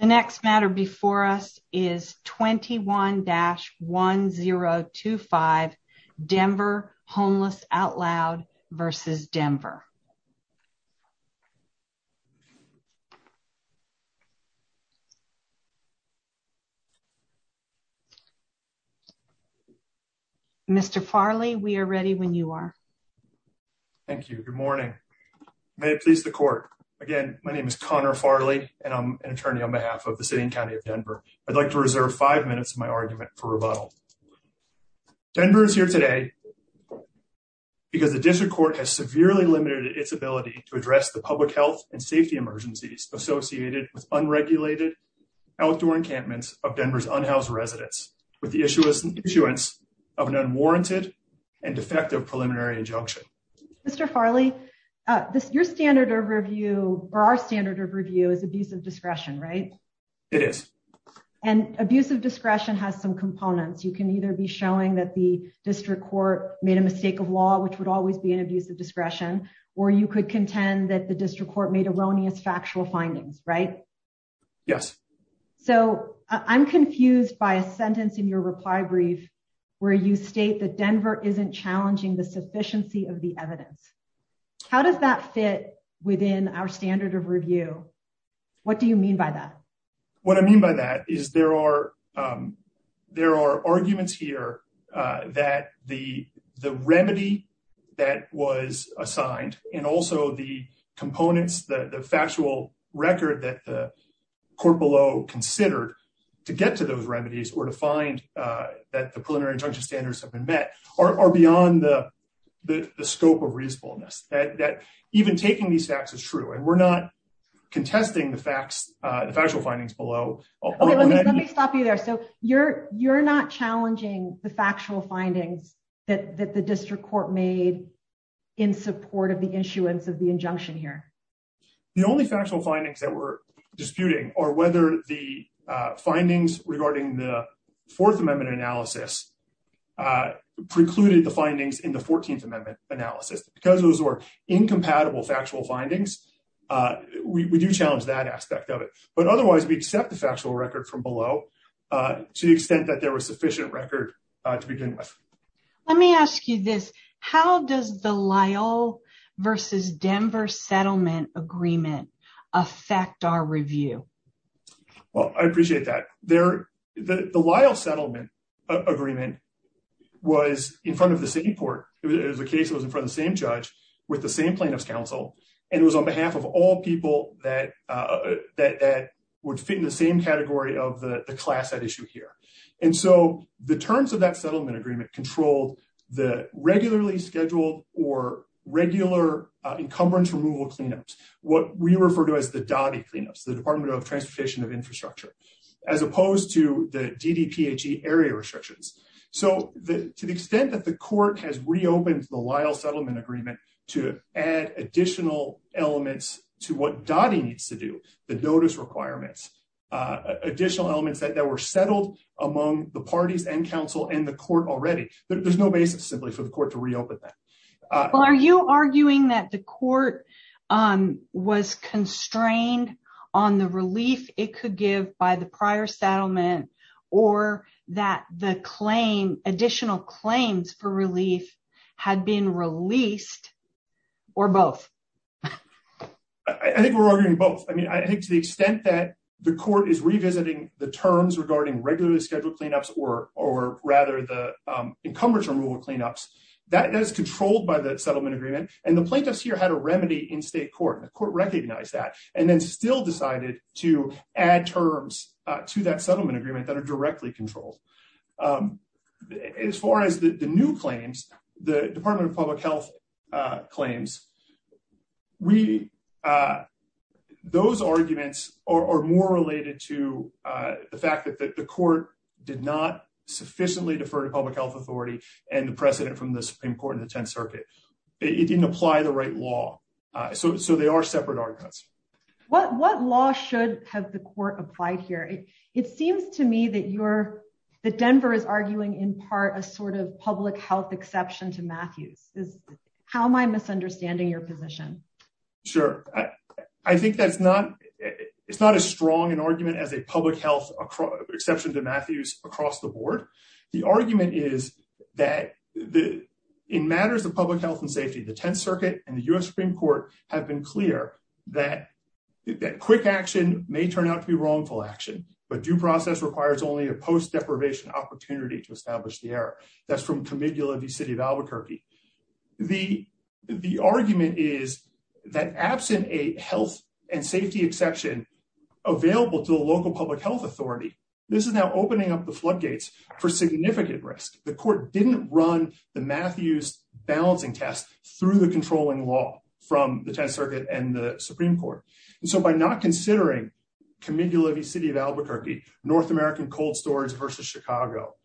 The next matter before us is 21-1025 Denver Homeless Out Loud v. Denver. Mr. Farley, we are ready when you are. Thank you. Good morning. May it please the court. Again, my name is Connor Farley, and I'm an attorney on behalf of the city and county of Denver. I'd like to reserve five minutes of my argument for rebuttal. Denver is here today because the district court has severely limited its ability to address the public health and safety emergencies associated with unregulated outdoor encampments of Denver's unhoused residents with the issuance of an unwarranted and defective preliminary injunction. Mr. Farley, your standard of review, or our standard of review, is abuse of discretion, right? It is. And abuse of discretion has some components. You can either be showing that the district court made a mistake of law, which would always be an abuse of discretion, or you could contend that the district court made erroneous factual findings, right? Yes. So I'm confused by a sentence in your reply brief where you state that Denver isn't challenging the sufficiency of the evidence. How does that fit within our standard of review? What do you mean by that? What I mean by that is there are arguments here that the remedy that was assigned and also the components, the factual record that the court below considered to get to those remedies or to find that the preliminary that even taking these facts is true. And we're not contesting the facts, the factual findings below. Let me stop you there. So you're not challenging the factual findings that the district court made in support of the issuance of the injunction here. The only factual findings that we're disputing are whether the findings regarding the Fourth Amendment analysis precluded the findings in the 14th Amendment analysis. Because those were incompatible factual findings, we do challenge that aspect of it. But otherwise, we accept the factual record from below to the extent that there was sufficient record to begin with. Let me ask you this, how does the Lyle versus Denver settlement agreement affect our review? Well, I appreciate that. The Lyle settlement agreement was in front of the same court. It was a case that was in front of the same judge with the same plaintiff's counsel. And it was on behalf of all people that would fit in the same category of the class at issue here. And so the terms of that settlement agreement controlled the regularly scheduled or regular encumbrance removal cleanups, what we as opposed to the DDPHE area restrictions. So to the extent that the court has reopened the Lyle settlement agreement to add additional elements to what DOTI needs to do, the notice requirements, additional elements that were settled among the parties and counsel and the court already, there's no basis simply for the court to reopen that. Well, are you arguing that the court was constrained on the relief it could give by the prior settlement, or that the claim additional claims for relief had been released, or both? I think we're arguing both. I mean, I think to the extent that the court is revisiting the terms regarding regularly scheduled cleanups, or or rather the encumbrance removal cleanups, that is controlled by the settlement agreement. And the plaintiffs here had a remedy in state court, and the court recognized that, and then still decided to add terms to that settlement agreement that are directly controlled. As far as the new claims, the Department of Public Health claims, those arguments are more related to the fact that the court did not sufficiently defer to public health authority and the precedent from the Supreme Circuit. It didn't apply the right law. So they are separate arguments. What law should have the court applied here? It seems to me that you're, that Denver is arguing in part a sort of public health exception to Matthews. How am I misunderstanding your position? Sure, I think that's not, it's not as strong an argument as a public health exception to Matthews across the board. The argument is that in matters of public health and safety, the Tenth Circuit and the U.S. Supreme Court have been clear that quick action may turn out to be wrongful action, but due process requires only a post-deprivation opportunity to establish the error. That's from Comigula v. City of Albuquerque. The argument is that absent a health and safety exception available to the local public authority, this is now opening up the floodgates for significant risk. The court didn't run the Matthews balancing test through the controlling law from the Tenth Circuit and the Supreme Court. And so by not considering Comigula v. City of Albuquerque, North American cold storage versus Chicago,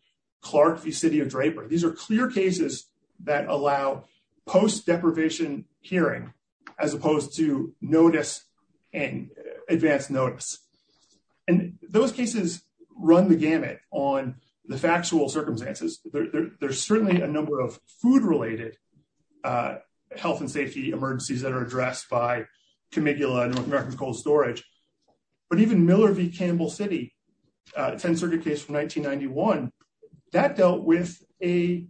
Clark v. City of Draper, these are clear cases that allow post-deprivation hearing as opposed to notice and advanced notice. And those cases run the gamut on the factual circumstances. There's certainly a number of food-related health and safety emergencies that are addressed by Comigula and North American cold storage, but even Miller v. Campbell City, Tenth Circuit case from 1991, that dealt with a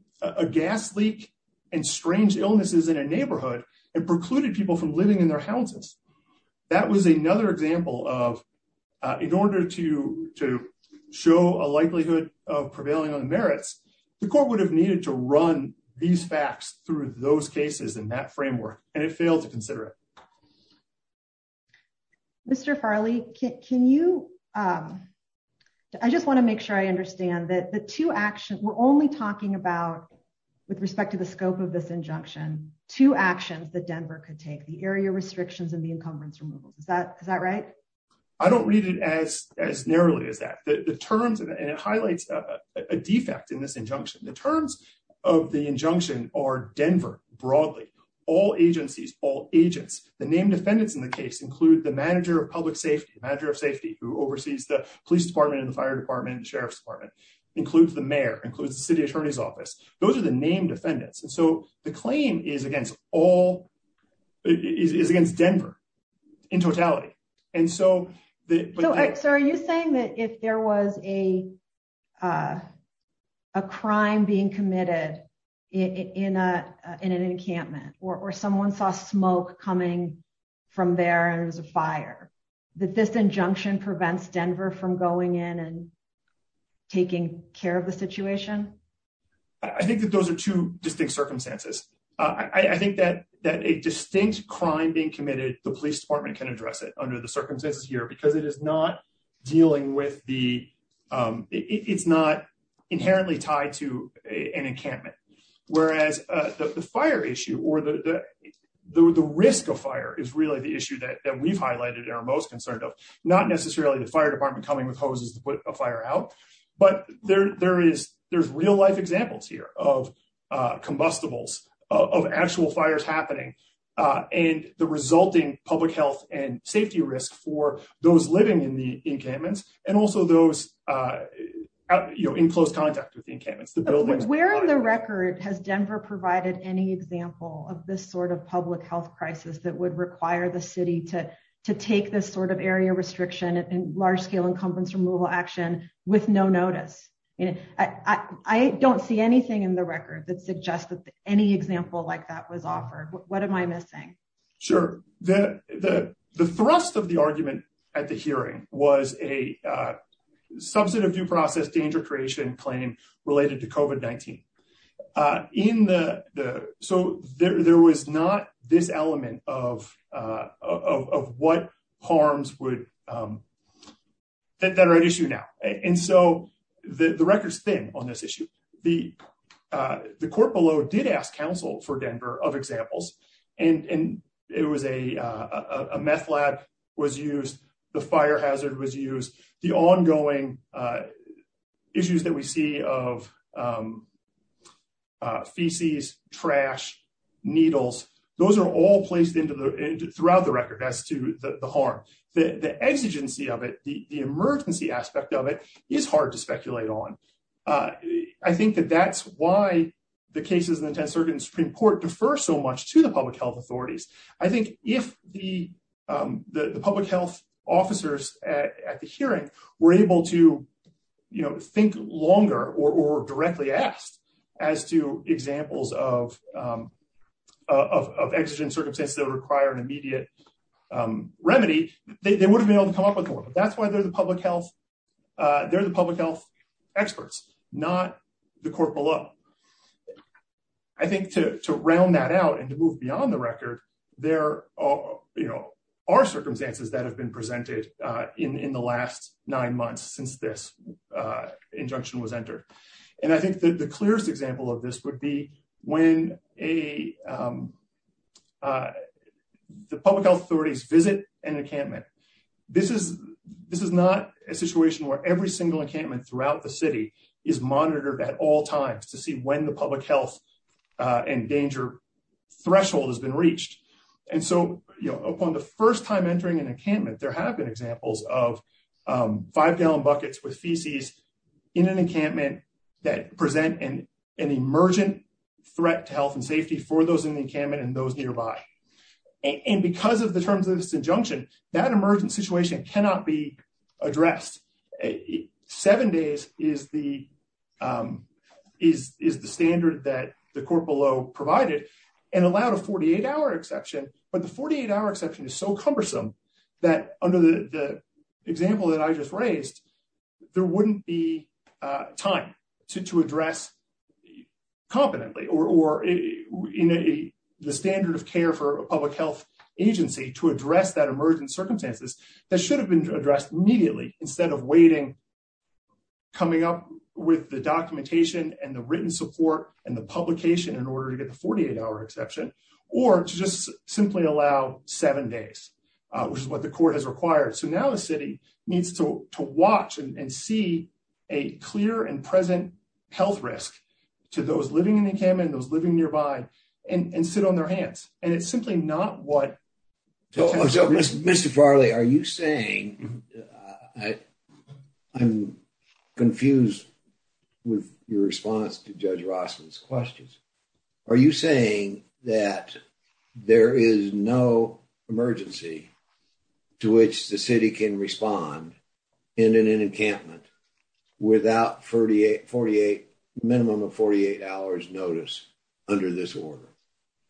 gas leak and strange illnesses in a neighborhood and precluded people from living in their houses. That was another example of, in order to show a likelihood of prevailing on the merits, the court would have needed to run these facts through those cases in that framework and it failed to consider it. Mr. Farley, can you, I just want to make sure I understand that the two actions we're only talking about with respect to the scope of this injunction, two actions that Denver could take, the area restrictions and the encumbrance removals, is that right? I don't read it as narrowly as that. The terms, and it highlights a defect in this injunction, the terms of the injunction are Denver, broadly, all agencies, all agents, the named defendants in the case include the manager of public safety, the manager of safety, who oversees the police department and the fire department and the sheriff's department, includes the mayor, includes the city attorney's office. Those are the named defendants. And so the claim is against all, is against Denver in totality. And so, So are you saying that if there was a crime being committed in an encampment or someone saw smoke coming from there and it was a fire, that this injunction prevents Denver from going in and I think that a distinct crime being committed, the police department can address it under the circumstances here because it is not dealing with the, it's not inherently tied to an encampment. Whereas the fire issue or the risk of fire is really the issue that we've highlighted and are most concerned of, not necessarily the fire department coming with hoses to put a fire out, but there's real life examples here of combustibles, of actual fires happening, and the resulting public health and safety risk for those living in the encampments and also those in close contact with the encampments, the buildings. Where on the record has Denver provided any example of this sort of public health crisis that would require the city to take this sort of area restriction and large-scale encumbrance removal action with no notice? I don't see anything in the record that suggests that any example like that was offered. What am I missing? Sure. The thrust of the argument at the hearing was a subset of due process, danger creation claim related to COVID-19. So there was not this element of what harms would that are at issue now. And so the record's thin on this issue. The court below did ask counsel for Denver of examples, and a meth lab was used, the fire hazard was used, the ongoing issues that we see of feces, trash, needles, those are all placed throughout the record as to the harm. The exigency of it, the emergency aspect of it is hard to speculate on. I think that that's why the cases in the 10th Circuit and Supreme Court differ so much to the public health authorities. I think if the public health officers at the hearing were able to think longer or directly asked as to examples of exigent circumstances that would require an injunction, they would have been able to come up with one. But that's why they're the public health experts, not the court below. I think to round that out and to move beyond the record, there are circumstances that have been presented in the last nine months since this injunction was entered. And I think that the clearest example of this would be when the public health authorities visit an encampment. This is not a situation where every single encampment throughout the city is monitored at all times to see when the public health and danger threshold has been reached. And so upon the first time entering an encampment, there have been examples of five-gallon buckets with feces in an encampment that present an emergent threat to health and safety for those in the encampment and those nearby. And because of the terms of this injunction, that emergent situation cannot be addressed. Seven days is the standard that the court below provided and allowed a 48-hour exception, but the 48-hour exception is so cumbersome that under the example that I just raised, there wouldn't be time to address competently or in the standard of care for a public health agency to address that emergent circumstances that should have been addressed immediately instead of waiting, coming up with the documentation and the written support and the publication in order to get the 48-hour exception, or to just simply allow seven days, which is what the court has required. So now the city needs to watch and see a clear and present health risk to those living in the encampment, those living nearby, and sit on their hands. And it's simply not what... Mr. Farley, are you saying... I'm confused with your response to Judge Rossman's questions. Are you saying that there is no emergency to which the city can respond in an encampment without a minimum of 48 hours notice under this order?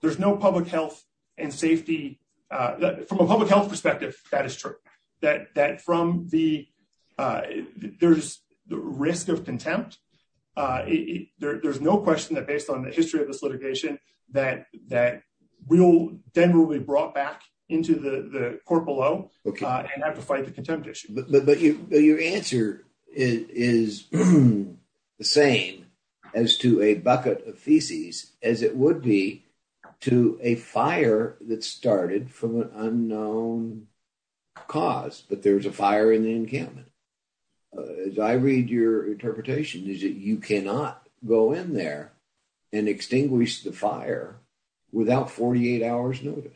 There's no public health and safety... From a public health perspective, that is true, that from the... There's risk of contempt. There's no question that based on the history of this litigation that Denver will be brought back into the court below and have to fight the contempt issue. But your answer is the same as to a bucket of feces as it would be to a fire that started from an unknown cause, but there's a fire in the encampment. As I read your interpretation, is it you cannot go in there and extinguish the fire without 48 hours notice?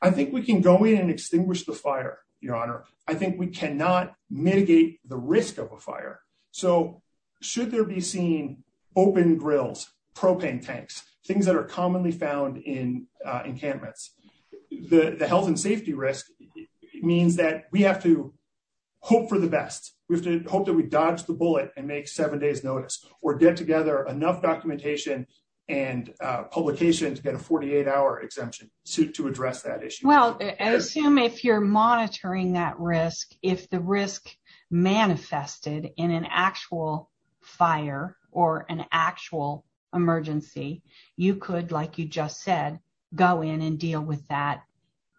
I think we can go in and extinguish the fire, Your Honor. I think we cannot mitigate the risk of a fire. So should there be seen open grills, propane tanks, things that are commonly found in encampments, the health and safety risk means that we have to hope for the best. We have to hope that we dodge the bullet and make seven days notice or get together enough documentation and publication to get a 48-hour exemption to address that issue. Well, I assume if you're monitoring that risk, if the risk manifested in an actual fire or an actual emergency, you could, like you just said, go in and deal with that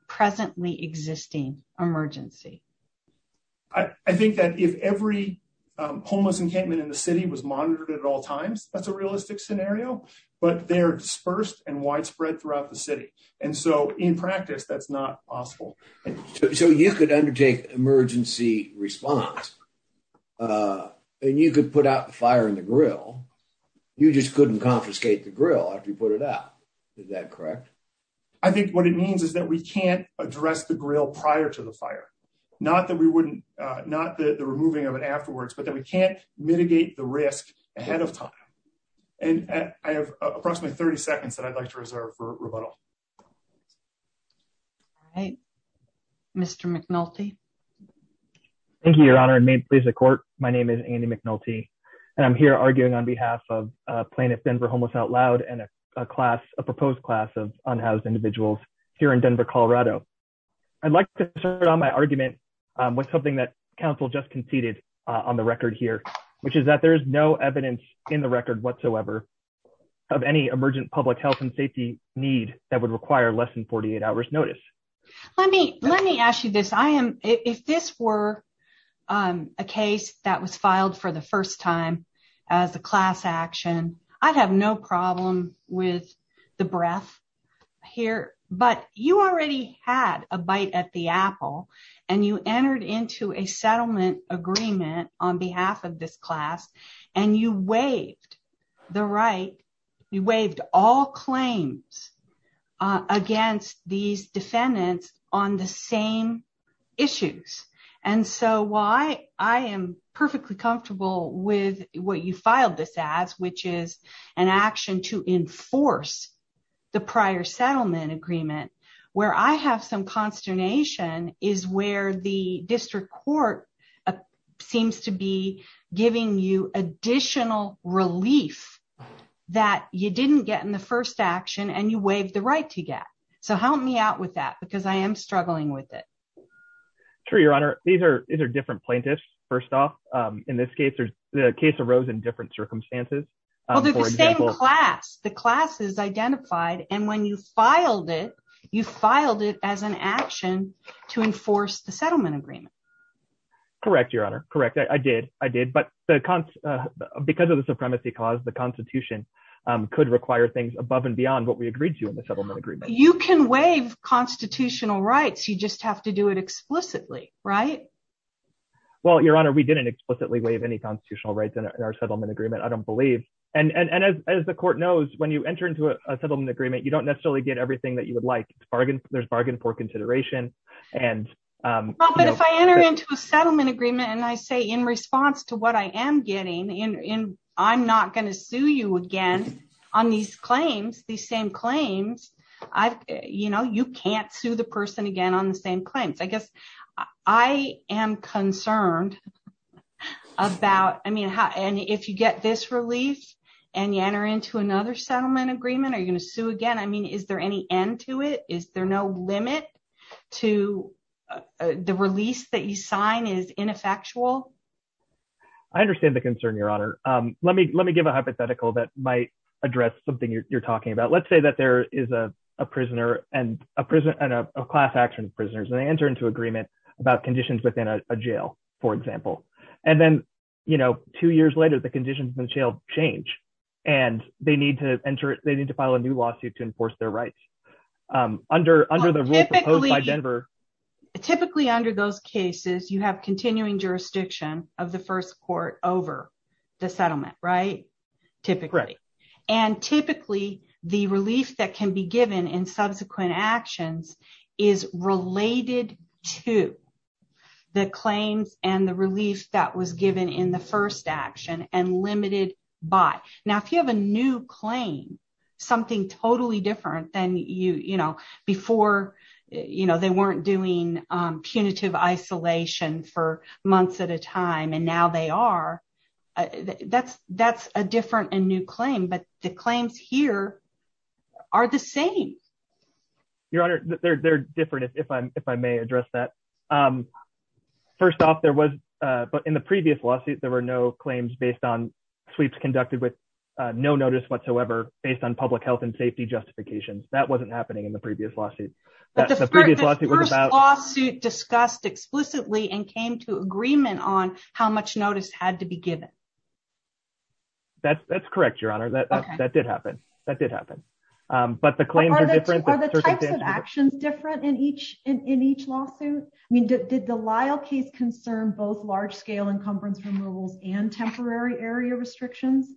presently existing emergency. I think that if every homeless encampment in the city was monitored at all times, that's a realistic scenario, but they're dispersed and widespread throughout the city. And so in practice, that's not possible. So you could undertake emergency response and you could put out the fire in the grill. You just couldn't confiscate the grill after you put it out. Is that correct? I think what it means is that we can't address the grill prior to the fire. Not that we wouldn't, not the removing of it afterwards, but that we can't mitigate the risk ahead of time. And I have approximately 30 seconds that I'd like to reserve for rebuttal. All right. Mr. McNulty. Thank you, Your Honor, and may it please the court. My name is Andy McNulty, and I'm here arguing on behalf of Plaintiff Denver Homeless Out Loud and a class, a proposed class of unhoused individuals here in Denver, Colorado. I'd like to start on my argument with something that council just conceded on the record here, which is that there is no evidence in the record whatsoever of any emergent public health and safety need that would require less than 48 hours notice. Let me ask you this. If this were a case that was filed for the first time as a class action, I'd have no problem with the breath here, but you already had a bite at the apple and you entered into a settlement agreement on behalf of this class and you waived the right, you waived all claims against these defendants on the same issues. And so while I am perfectly comfortable with what you filed this as, which is an action to enforce the prior settlement agreement, where I have some consternation is where the district court seems to be giving you additional relief that you didn't get in the first action and you waived the right to get. So help me out with that because I am struggling with it. Sure, your honor. These are, these are different plaintiffs. First off, in this case, there's the case arose in different circumstances. The same class, the class is identified. And when you filed it, you filed it as an action to enforce the settlement agreement. Correct. Your honor. Correct. I did. I did, but the cons because of the supremacy cause, the constitution could require things above and beyond what we agreed to in the settlement agreement. You can waive constitutional rights. You just have to do it explicitly, right? Well, your honor, we didn't explicitly waive any constitutional rights in our settlement agreement. I don't believe. And, and, and as, as the court knows, when you enter into a settlement agreement, you don't necessarily get everything that you would like it's bargained. There's bargained for consideration. And if I enter into a settlement agreement and I say in response to what I am getting in, in, I'm not going to sue you again on these claims, these same claims I've, you know, you can't sue the person again on the same claims. I guess I am concerned about, I mean, how, and if you get this relief and you enter into another settlement agreement, are you going to sue again? I mean, is there any end to it? Is there no limit to the release that you sign is ineffectual? I understand the concern, your honor. Let me, let me give a hypothetical that might address something you're talking about. Let's say that there is a prisoner and a prisoner and a class action prisoners, and they enter into agreement about conditions within a jail, for example. And then, you know, two years later, the conditions change and they need to enter, they need to file a new lawsuit to enforce their rights. Under, under the rule proposed by Denver. Typically under those cases, you have continuing jurisdiction of the first court over the settlement, right? Typically. And typically the relief that can be given in subsequent actions is related to the claims and the relief that was bought. Now, if you have a new claim, something totally different than you, you know, before, you know, they weren't doing punitive isolation for months at a time, and now they are, that's, that's a different and new claim, but the claims here are the same. Your honor, they're, they're different if I'm, if I may address that. First off there was, but in the previous lawsuit, there were no claims based on sweeps conducted with no notice whatsoever based on public health and safety justifications. That wasn't happening in the previous lawsuit. The previous lawsuit was about... The first lawsuit discussed explicitly and came to agreement on how much notice had to be given. That's, that's correct. Your honor, that, that did happen. That did happen. But the claims are different... Are the types of encumbrance removals and temporary area restrictions?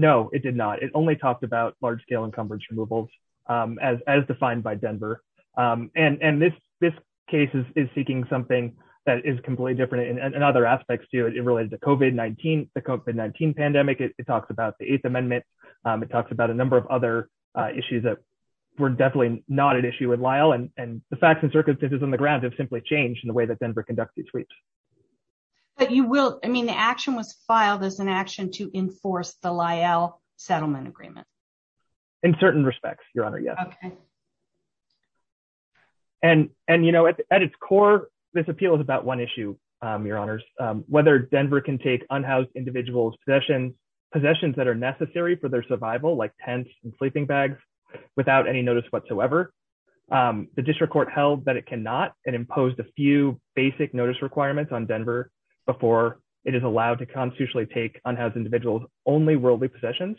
No, it did not. It only talked about large-scale encumbrance removals as, as defined by Denver. And, and this, this case is seeking something that is completely different in other aspects to it. It related to COVID-19, the COVID-19 pandemic. It talks about the eighth amendment. It talks about a number of other issues that were definitely not an issue with Lyle and the facts and circumstances on the ground have simply changed in the way that Denver conducts these sweeps. But you will, I mean, the action was filed as an action to enforce the Lyle settlement agreement. In certain respects, your honor, yes. Okay. And, and you know, at its core, this appeal is about one issue, your honors, whether Denver can take unhoused individuals possessions, possessions that are necessary for their survival, like tents and sleeping bags without any notice whatsoever. The district court held that it cannot and imposed a few basic notice requirements on Denver before it is allowed to constitutionally take unhoused individuals only worldly possessions.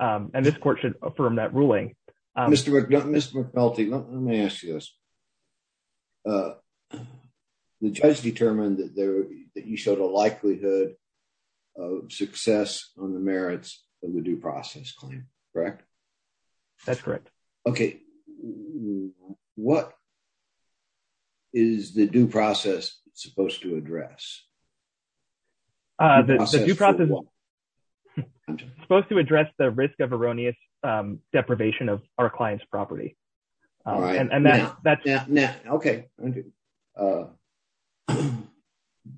And this court should affirm that ruling. Mr. McNulty, let me ask you this. The judge determined that there, that he showed a likelihood of success on the merits of the due process claim, correct? That's correct. Okay. What is the due process supposed to address? Supposed to address the risk of erroneous deprivation of our client's property. Okay.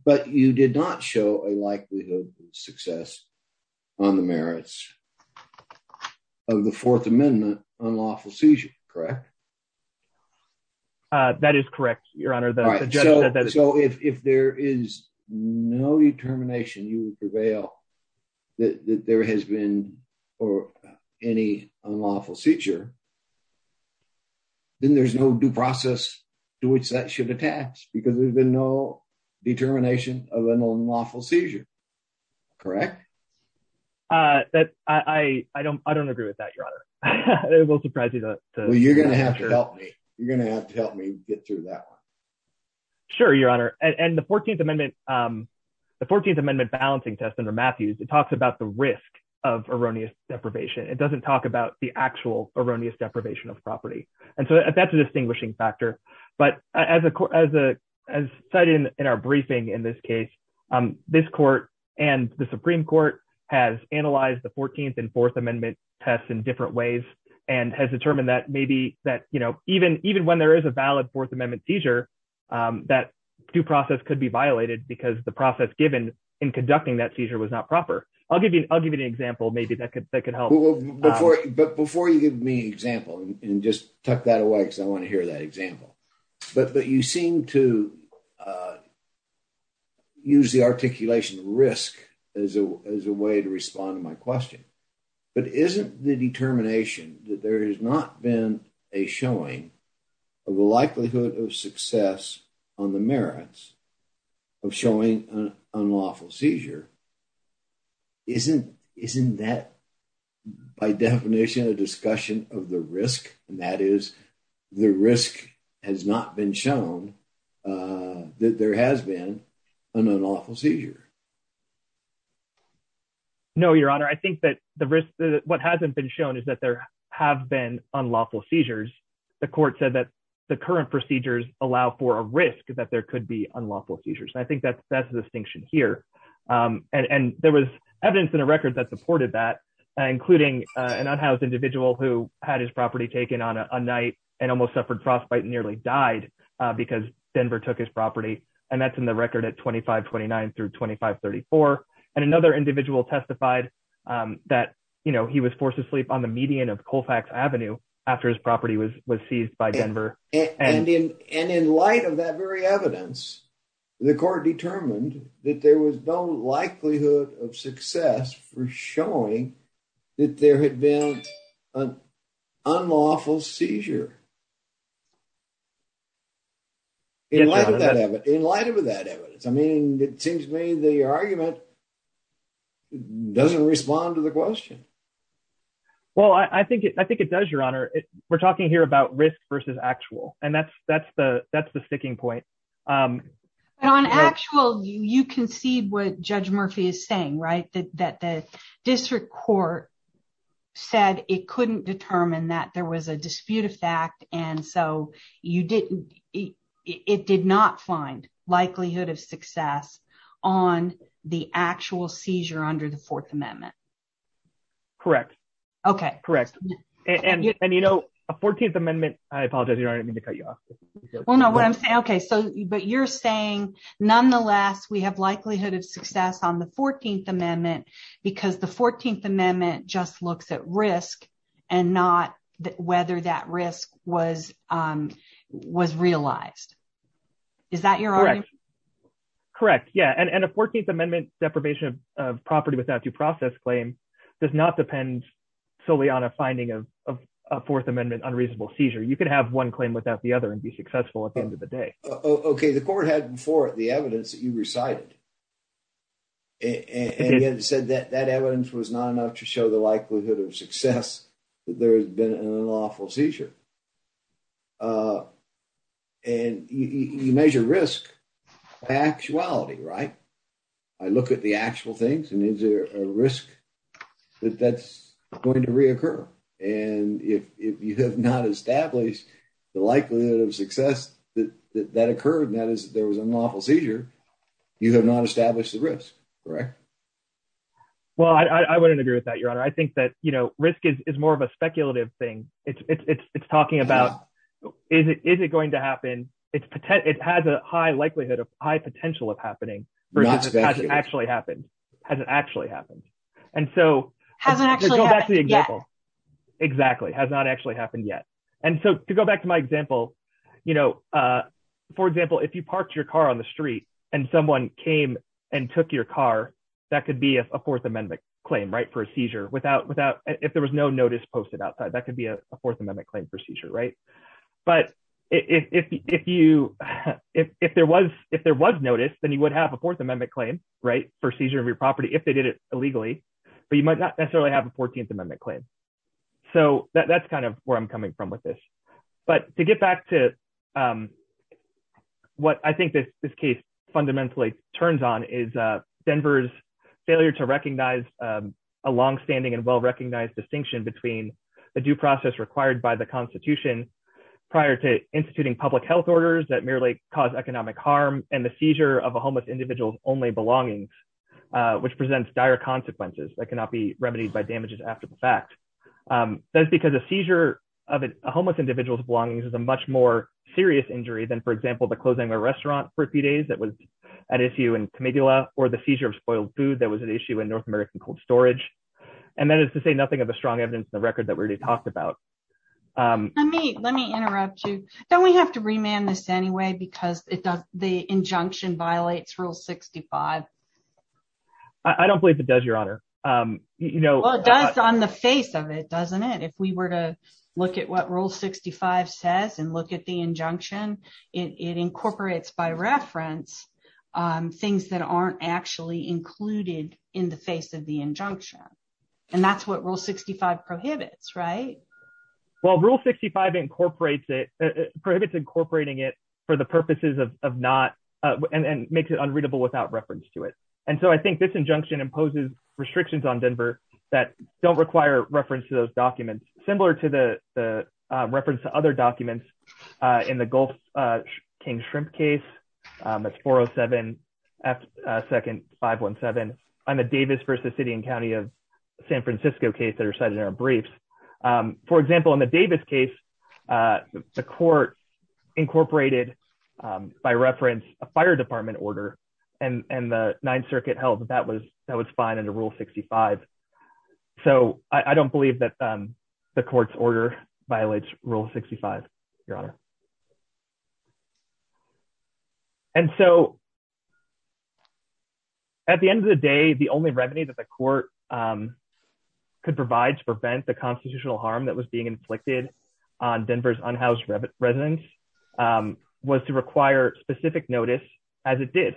But you did not show a likelihood of success on the merits of the fourth amendment unlawful seizure, correct? That is correct, your honor. So if, if there is no determination, you prevail that there has been, or any unlawful seizure, then there's no due process to which that should attach because there's been no determination of an unlawful seizure, correct? Uh, that I, I don't, I don't agree with that, your honor. It will surprise you though. Well, you're going to have to help me. You're going to have to help me get through that one. Sure, your honor. And the 14th amendment, um, the 14th amendment balancing test under Matthews, it talks about the risk of erroneous deprivation. It doesn't talk about the actual erroneous property. And so that's a distinguishing factor, but as a, as a, as cited in our briefing in this case, um, this court and the Supreme court has analyzed the 14th and fourth amendment tests in different ways and has determined that maybe that, you know, even, even when there is a valid fourth amendment seizure, um, that due process could be violated because the process given in conducting that seizure was not proper. I'll give you, I'll give you an example. Maybe that could help. But before you give me an example and just tuck that away, cause I want to hear that example, but, but you seem to, uh, use the articulation risk as a, as a way to respond to my question, but isn't the determination that there has not been a showing of the likelihood of success on the merits of showing an unlawful seizure. Isn't, isn't that by definition, a discussion of the risk and that is the risk has not been shown, uh, that there has been an unlawful seizure. No, your honor. I think that the risk, what hasn't been shown is that there have been unlawful seizures. The court said that the current procedures allow for a risk that there could be unlawful seizures. And I think that that's the distinction here. Um, and, and there was evidence in a record that supported that, including an unhoused individual who had his property taken on a night and almost suffered frostbite and nearly died because Denver took his property. And that's in the record at 2529 through 2534. And another individual testified, um, that, you know, he was forced to sleep on the median of Colfax Avenue after his property was, was seized by Denver. And in, and in light of that very evidence, the court determined that there was no likelihood of success for showing that there had been an unlawful seizure in light of that evidence, in light of that evidence. I mean, it seems to me the argument doesn't respond to the question. Well, I think it, I think it does, your honor, we're talking here about risk versus actual, and that's, that's the, that's the sticking point. Um, but on actual, you, you concede what judge Murphy is saying, right? That, that the district court said it couldn't determine that there was a dispute of fact. And so you didn't, it did not find likelihood of success on the actual seizure under the fourth amendment. Correct. Okay. Correct. And, and, and, you know, a 14th amendment, I apologize, your honor, I didn't mean to cut you off. Well, no, what I'm saying, okay. So, but you're saying nonetheless, we have likelihood of success on the 14th amendment because the 14th amendment just looks at risk and not whether that risk was, um, was realized. Is that your argument? Correct. Yeah. And, and a 14th amendment deprivation of property without due process claim does not depend solely on a finding of a fourth amendment, unreasonable seizure. You could have one claim without the other and be successful at the end of the day. Okay. The court had before the evidence that you recited and said that that evidence was not enough to show the likelihood of success that there has been an unlawful seizure. Uh, and you measure risk actuality, right? I look at the actual things and is there a risk that that's going to reoccur? And if, if you have not established the likelihood of success that, that, that occurred, and that is, there was a novel seizure, you have not established the risk. Correct. Well, I, I wouldn't agree with that, your honor. I think that, you know, risk is, is more of a speculative thing. It's, it's, it's, it's talking about, is it, is it going to happen? It's potent. It has a high likelihood of high potential of happening versus actually happened, hasn't actually happened. And so hasn't actually, exactly has not actually happened yet. And so to go back to my example, you know, uh, for example, if you parked your car on the street and someone came and took your car, that could be a fourth amendment claim, right? For a seizure without, without, if there was no notice posted outside, that could be a fourth amendment claim procedure, right? But if, if, if you, if, if there was, if there was notice, then you would have a fourth amendment claim, right? For seizure of your property, if they did it illegally, but you might not necessarily have a 14th amendment claim. So that, that's kind of where I'm coming from with this, but to get back to, um, what I think that this case fundamentally turns on is, uh, Denver's failure to recognize, um, a longstanding and well-recognized distinction between the due process required by the constitution prior to instituting public health orders that merely cause economic harm and the seizure of a homeless individual's only belongings, uh, which presents dire consequences that cannot be remedied by damages after the fact. Um, that's because a seizure of a homeless individual's belongings is a much more serious than, for example, the closing of a restaurant for a few days that was an issue in Camigula or the seizure of spoiled food that was an issue in North American cold storage. And that is to say nothing of a strong evidence in the record that we already talked about. Um, let me, let me interrupt you. Don't we have to remand this anyway, because it does, the injunction violates rule 65. I don't believe it does your honor. Um, you know, well it does on the face of it, doesn't it? If we were to look at what rule 65 says and look at the it, it incorporates by reference, um, things that aren't actually included in the face of the injunction. And that's what rule 65 prohibits, right? Well, rule 65 incorporates it prohibits incorporating it for the purposes of, of not, uh, and, and makes it unreadable without reference to it. And so I think this injunction imposes restrictions on Denver that don't require reference to those documents, similar to the, uh, reference to other documents, uh, in the Gulf, uh, King shrimp case. Um, that's four Oh seven, uh, second five one seven. I'm a Davis versus city and County of San Francisco case that are cited in our briefs. Um, for example, in the Davis case, uh, the court incorporated, um, by reference, a fire department order and, and the ninth circuit held that that was, that was fine under rule 65. So I don't believe that, um, the court's order violates rule 65, your honor. And so at the end of the day, the only revenue that the court, um, could provide to prevent the constitutional harm that was being inflicted on Denver's unhoused residents, um, was to require specific notice as it did.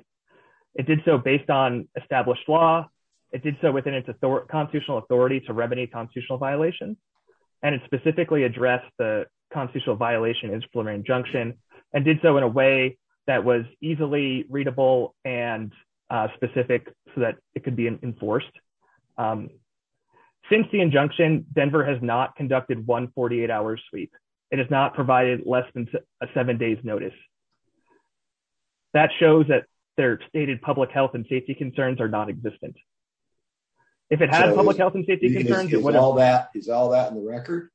It did so based on established law. It did so within its authority, constitutional authority to remedy constitutional violations. And it specifically addressed the constitutional violation is Florentine junction and did so in a way that was easily readable and, uh, specific so that it could be enforced. Um, since the injunction, Denver has not conducted one 48 hours sweep. It has not provided less than a seven days notice. That shows that their stated public health and safety concerns are non-existent. If it has public health and safety concerns, is all that is all that in the record.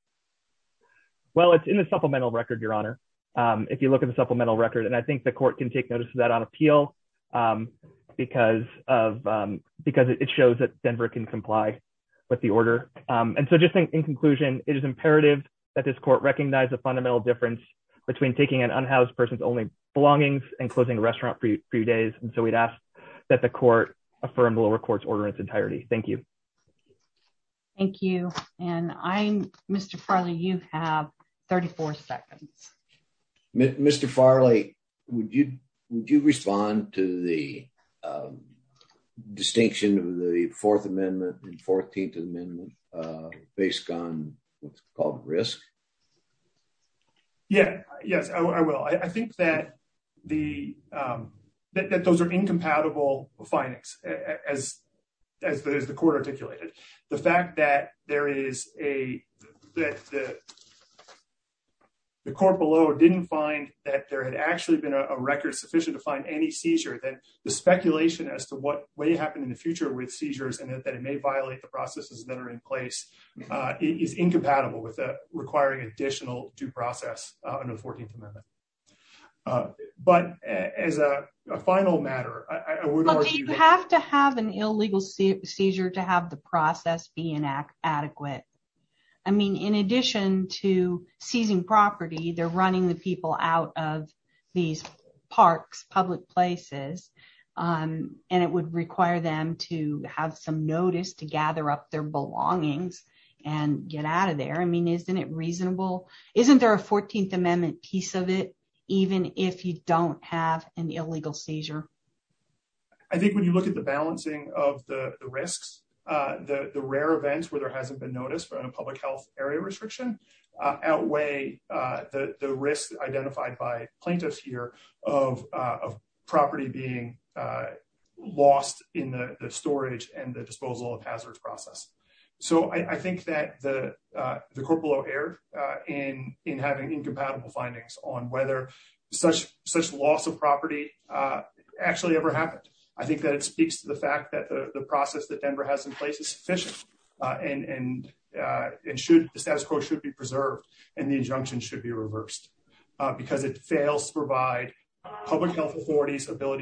Well, it's in the supplemental record, your honor. Um, if you look at the supplemental record, and I think the court can take notice of that on appeal, um, because of, um, because it shows that Denver can comply with the order. Um, and so just in conclusion, it is imperative that this court recognize the fundamental difference between taking an unhoused person's only belongings and closing a restaurant for a few days. And so we'd ask that the court affirm the lower court's order in its entirety. Thank you. Thank you. And I'm Mr. Farley. You have 34 seconds. Mr. Farley, would you, would you respond to the, um, distinction of the fourth amendment and 14th amendment? Yeah. Yes, I will. I think that the, um, that those are incompatible findings as, as the court articulated the fact that there is a, that the court below didn't find that there had actually been a record sufficient to find any seizure that the speculation as to what way happened in the future with seizures and that it may violate the processes that are in place, uh, is incompatible with, uh, requiring additional due process, uh, under the 14th amendment. Uh, but as a final matter, I would argue that you have to have an illegal seizure to have the process be inadequate. I mean, in addition to seizing property, they're running the people out of these parks, public places. Um, and it would require them to have some notice to gather up their belongings and get out of there. I mean, isn't it reasonable? Isn't there a 14th amendment piece of it, even if you don't have an illegal seizure? I think when you look at the balancing of the risks, uh, the, the rare events where there hasn't been noticed, but in a public health area restriction, uh, outweigh, uh, the, the risks identified by plaintiffs here of, uh, of property being, uh, lost in the storage and the disposal of hazards process. So I think that the, uh, the corporal error, uh, in, in having incompatible findings on whether such, such loss of property, uh, actually ever happened. I think that it speaks to the fact that the process that Denver has in place is sufficient, uh, and, and, uh, it should, the status quo should be preserved and the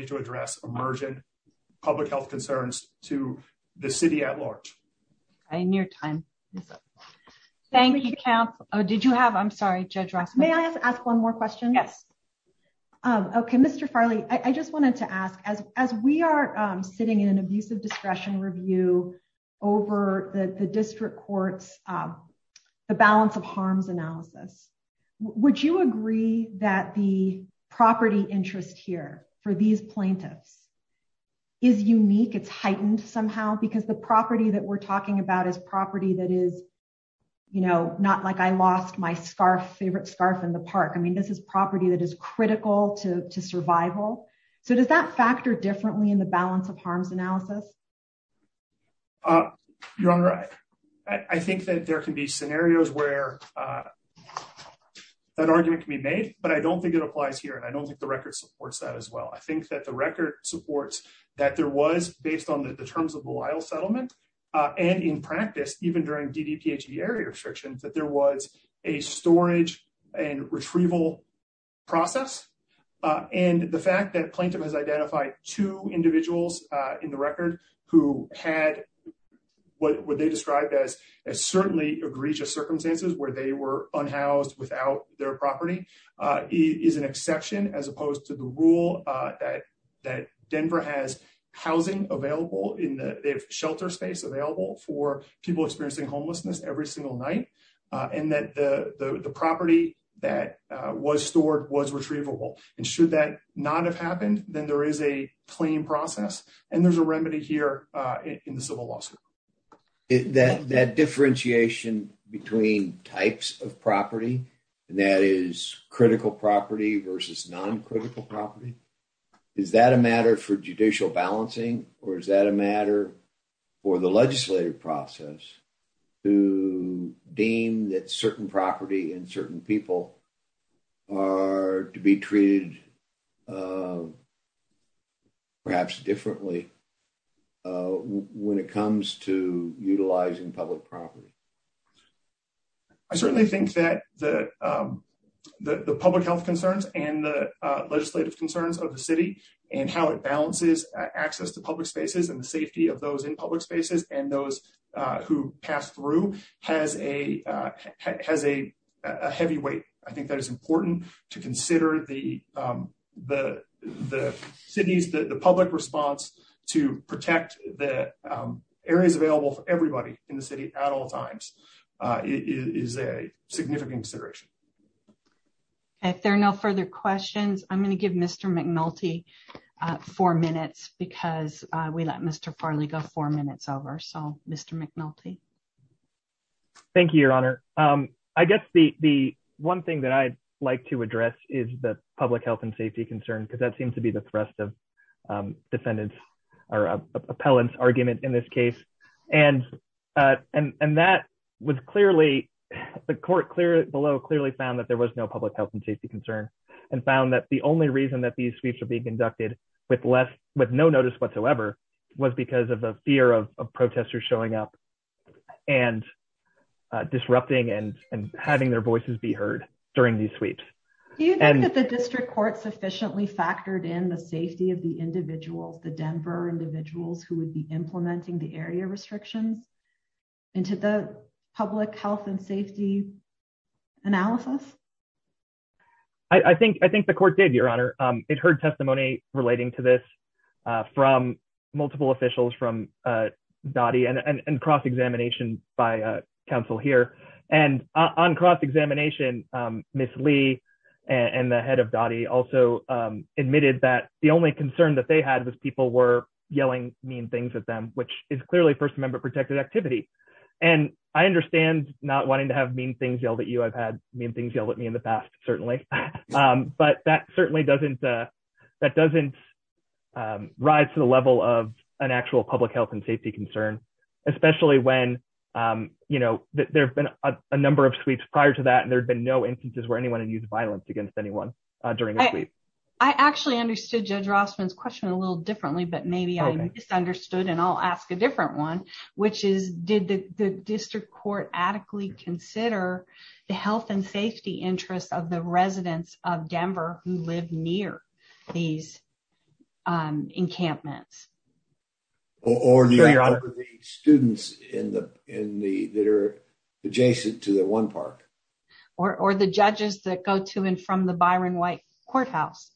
to address emergent public health concerns to the city at large. I near time. Thank you camp. Oh, did you have, I'm sorry, judge Ross. May I ask one more question? Yes. Um, okay. Mr. Farley, I just wanted to ask as, as we are sitting in an abusive discretion review over the district courts, um, the balance of harms analysis, would you agree that the balance of harms analysis for plaintiffs is unique? It's heightened somehow because the property that we're talking about is property that is, you know, not like I lost my scarf, favorite scarf in the park. I mean, this is property that is critical to survival. So does that factor differently in the balance of harms analysis? Uh, you're on the right. I think that there can be scenarios where, uh, that argument can be made, but I don't think it applies here. And I don't think the record supports that as well. I think that the record supports that there was based on the terms of the Lyle settlement. Uh, and in practice, even during DDPHE area restrictions, that there was a storage and retrieval process. Uh, and the fact that plaintiff has identified two individuals, uh, in the record who had what would they described as, as certainly egregious circumstances where they were unhoused without their property, uh, is an exception as opposed to the rule, uh, that, that Denver has housing available in the shelter space available for people experiencing homelessness every single night. Uh, and that the, the, the property that, uh, was stored was retrievable. And should that not have happened, then there is a clean process and there's a remedy here, uh, in the civil lawsuit. That, that differentiation between types of property, and that is critical property versus non-critical property, is that a matter for judicial balancing or is that a matter for the legislative process to deem that certain property and certain people are to be treated, uh, perhaps differently, uh, when it comes to utilizing public property? I certainly think that the, um, the, the public health concerns and the, uh, legislative concerns of the city and how it balances access to public spaces and the safety of those in public spaces and those, uh, who pass through has a, uh, has a, a heavy weight. I think that is important to consider the, um, the, the city's, the, the public response to protect the, um, areas available for everybody in the city at all times, uh, is a significant consideration. If there are no further questions, I'm going to give Mr. McNulty, uh, four minutes because, uh, we let Mr. Farley go four minutes over. So, Mr. McNulty. Thank you, Your Honor. Um, I guess the, the one thing that I'd like to address is the public health and safety concerns because that seems to be the thrust of, um, defendants or, uh, appellants argument in this case. And, uh, and, and that was clearly, the court clear below clearly found that there was no public health and safety concern and found that the only reason that these was because of a fear of a protester showing up and, uh, disrupting and having their voices be heard during these sweeps. Do you think that the district court sufficiently factored in the safety of the individuals, the Denver individuals who would be implementing the area restrictions into the public health and safety analysis? I think, I think the court did, Your Honor. Um, heard testimony relating to this, uh, from multiple officials from, uh, DOTI and cross examination by, uh, counsel here and on cross examination, um, Ms. Lee and the head of DOTI also, um, admitted that the only concern that they had was people were yelling mean things at them, which is clearly first member protected activity. And I understand not wanting to have mean things yelled at you. I've had mean things yelled at me in the past, certainly. Um, but that certainly doesn't, uh, that doesn't, um, rise to the level of an actual public health and safety concern, especially when, um, you know, there've been a number of sweeps prior to that, and there'd been no instances where anyone had used violence against anyone during a sweep. I actually understood Judge Rossman's question a little differently, but maybe I misunderstood and I'll ask a different one, which is, did the district court adequately consider the health and safety interests of the residents of Denver who live near these, um, encampments? Or the students in the, in the, that are adjacent to the one park. Or, or the judges that go to and from the Byron White Courthouse.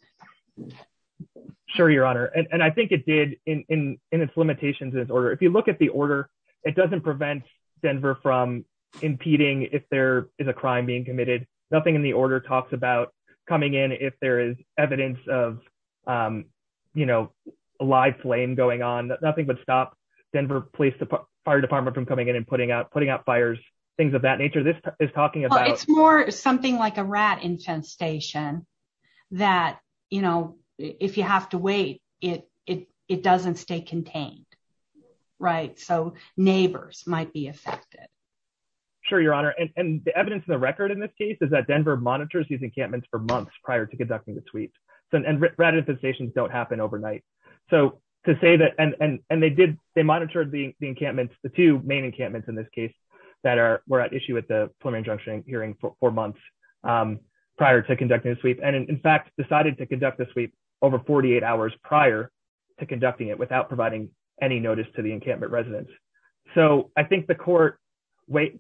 Sure, Your Honor. And I think it did in, in, in its limitations in this order. If you look at the in the order talks about coming in, if there is evidence of, um, you know, live flame going on, nothing would stop Denver Police Department, Fire Department from coming in and putting out, putting out fires, things of that nature. This is talking about. It's more something like a rat infestation that, you know, if you have to wait, it, it, it doesn't stay contained. Right. So neighbors might be affected. Sure, Your Honor. And the evidence in the record in this case is that Denver monitors these encampments for months prior to conducting the sweep. So, and rat infestations don't happen overnight. So to say that, and, and, and they did, they monitored the encampments, the two main encampments in this case that are, were at issue with the preliminary injunction hearing for months, um, prior to conducting a sweep. And in fact, decided to conduct the sweep over 48 hours prior to conducting it without providing any notice to the encampment residents. So I think the court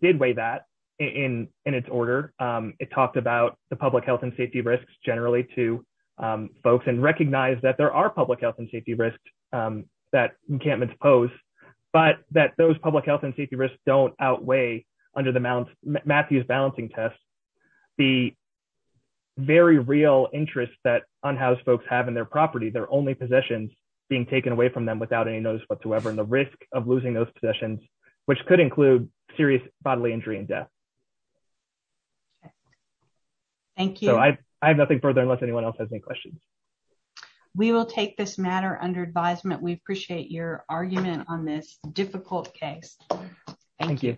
did weigh that in, in its order. Um, it talked about the public health and safety risks generally to, um, folks and recognize that there are public health and safety risks, um, that encampments pose, but that those public health and safety risks don't outweigh under the Mount Matthews balancing tests, the very real interest that unhoused folks have in their property, their only possessions being taken away from them without any notice whatsoever. And the risk of losing those possessions, which could include serious bodily injury and death. Thank you. I have nothing further unless anyone else has any questions. We will take this matter under advisement. We appreciate your argument on this difficult case. Thank you.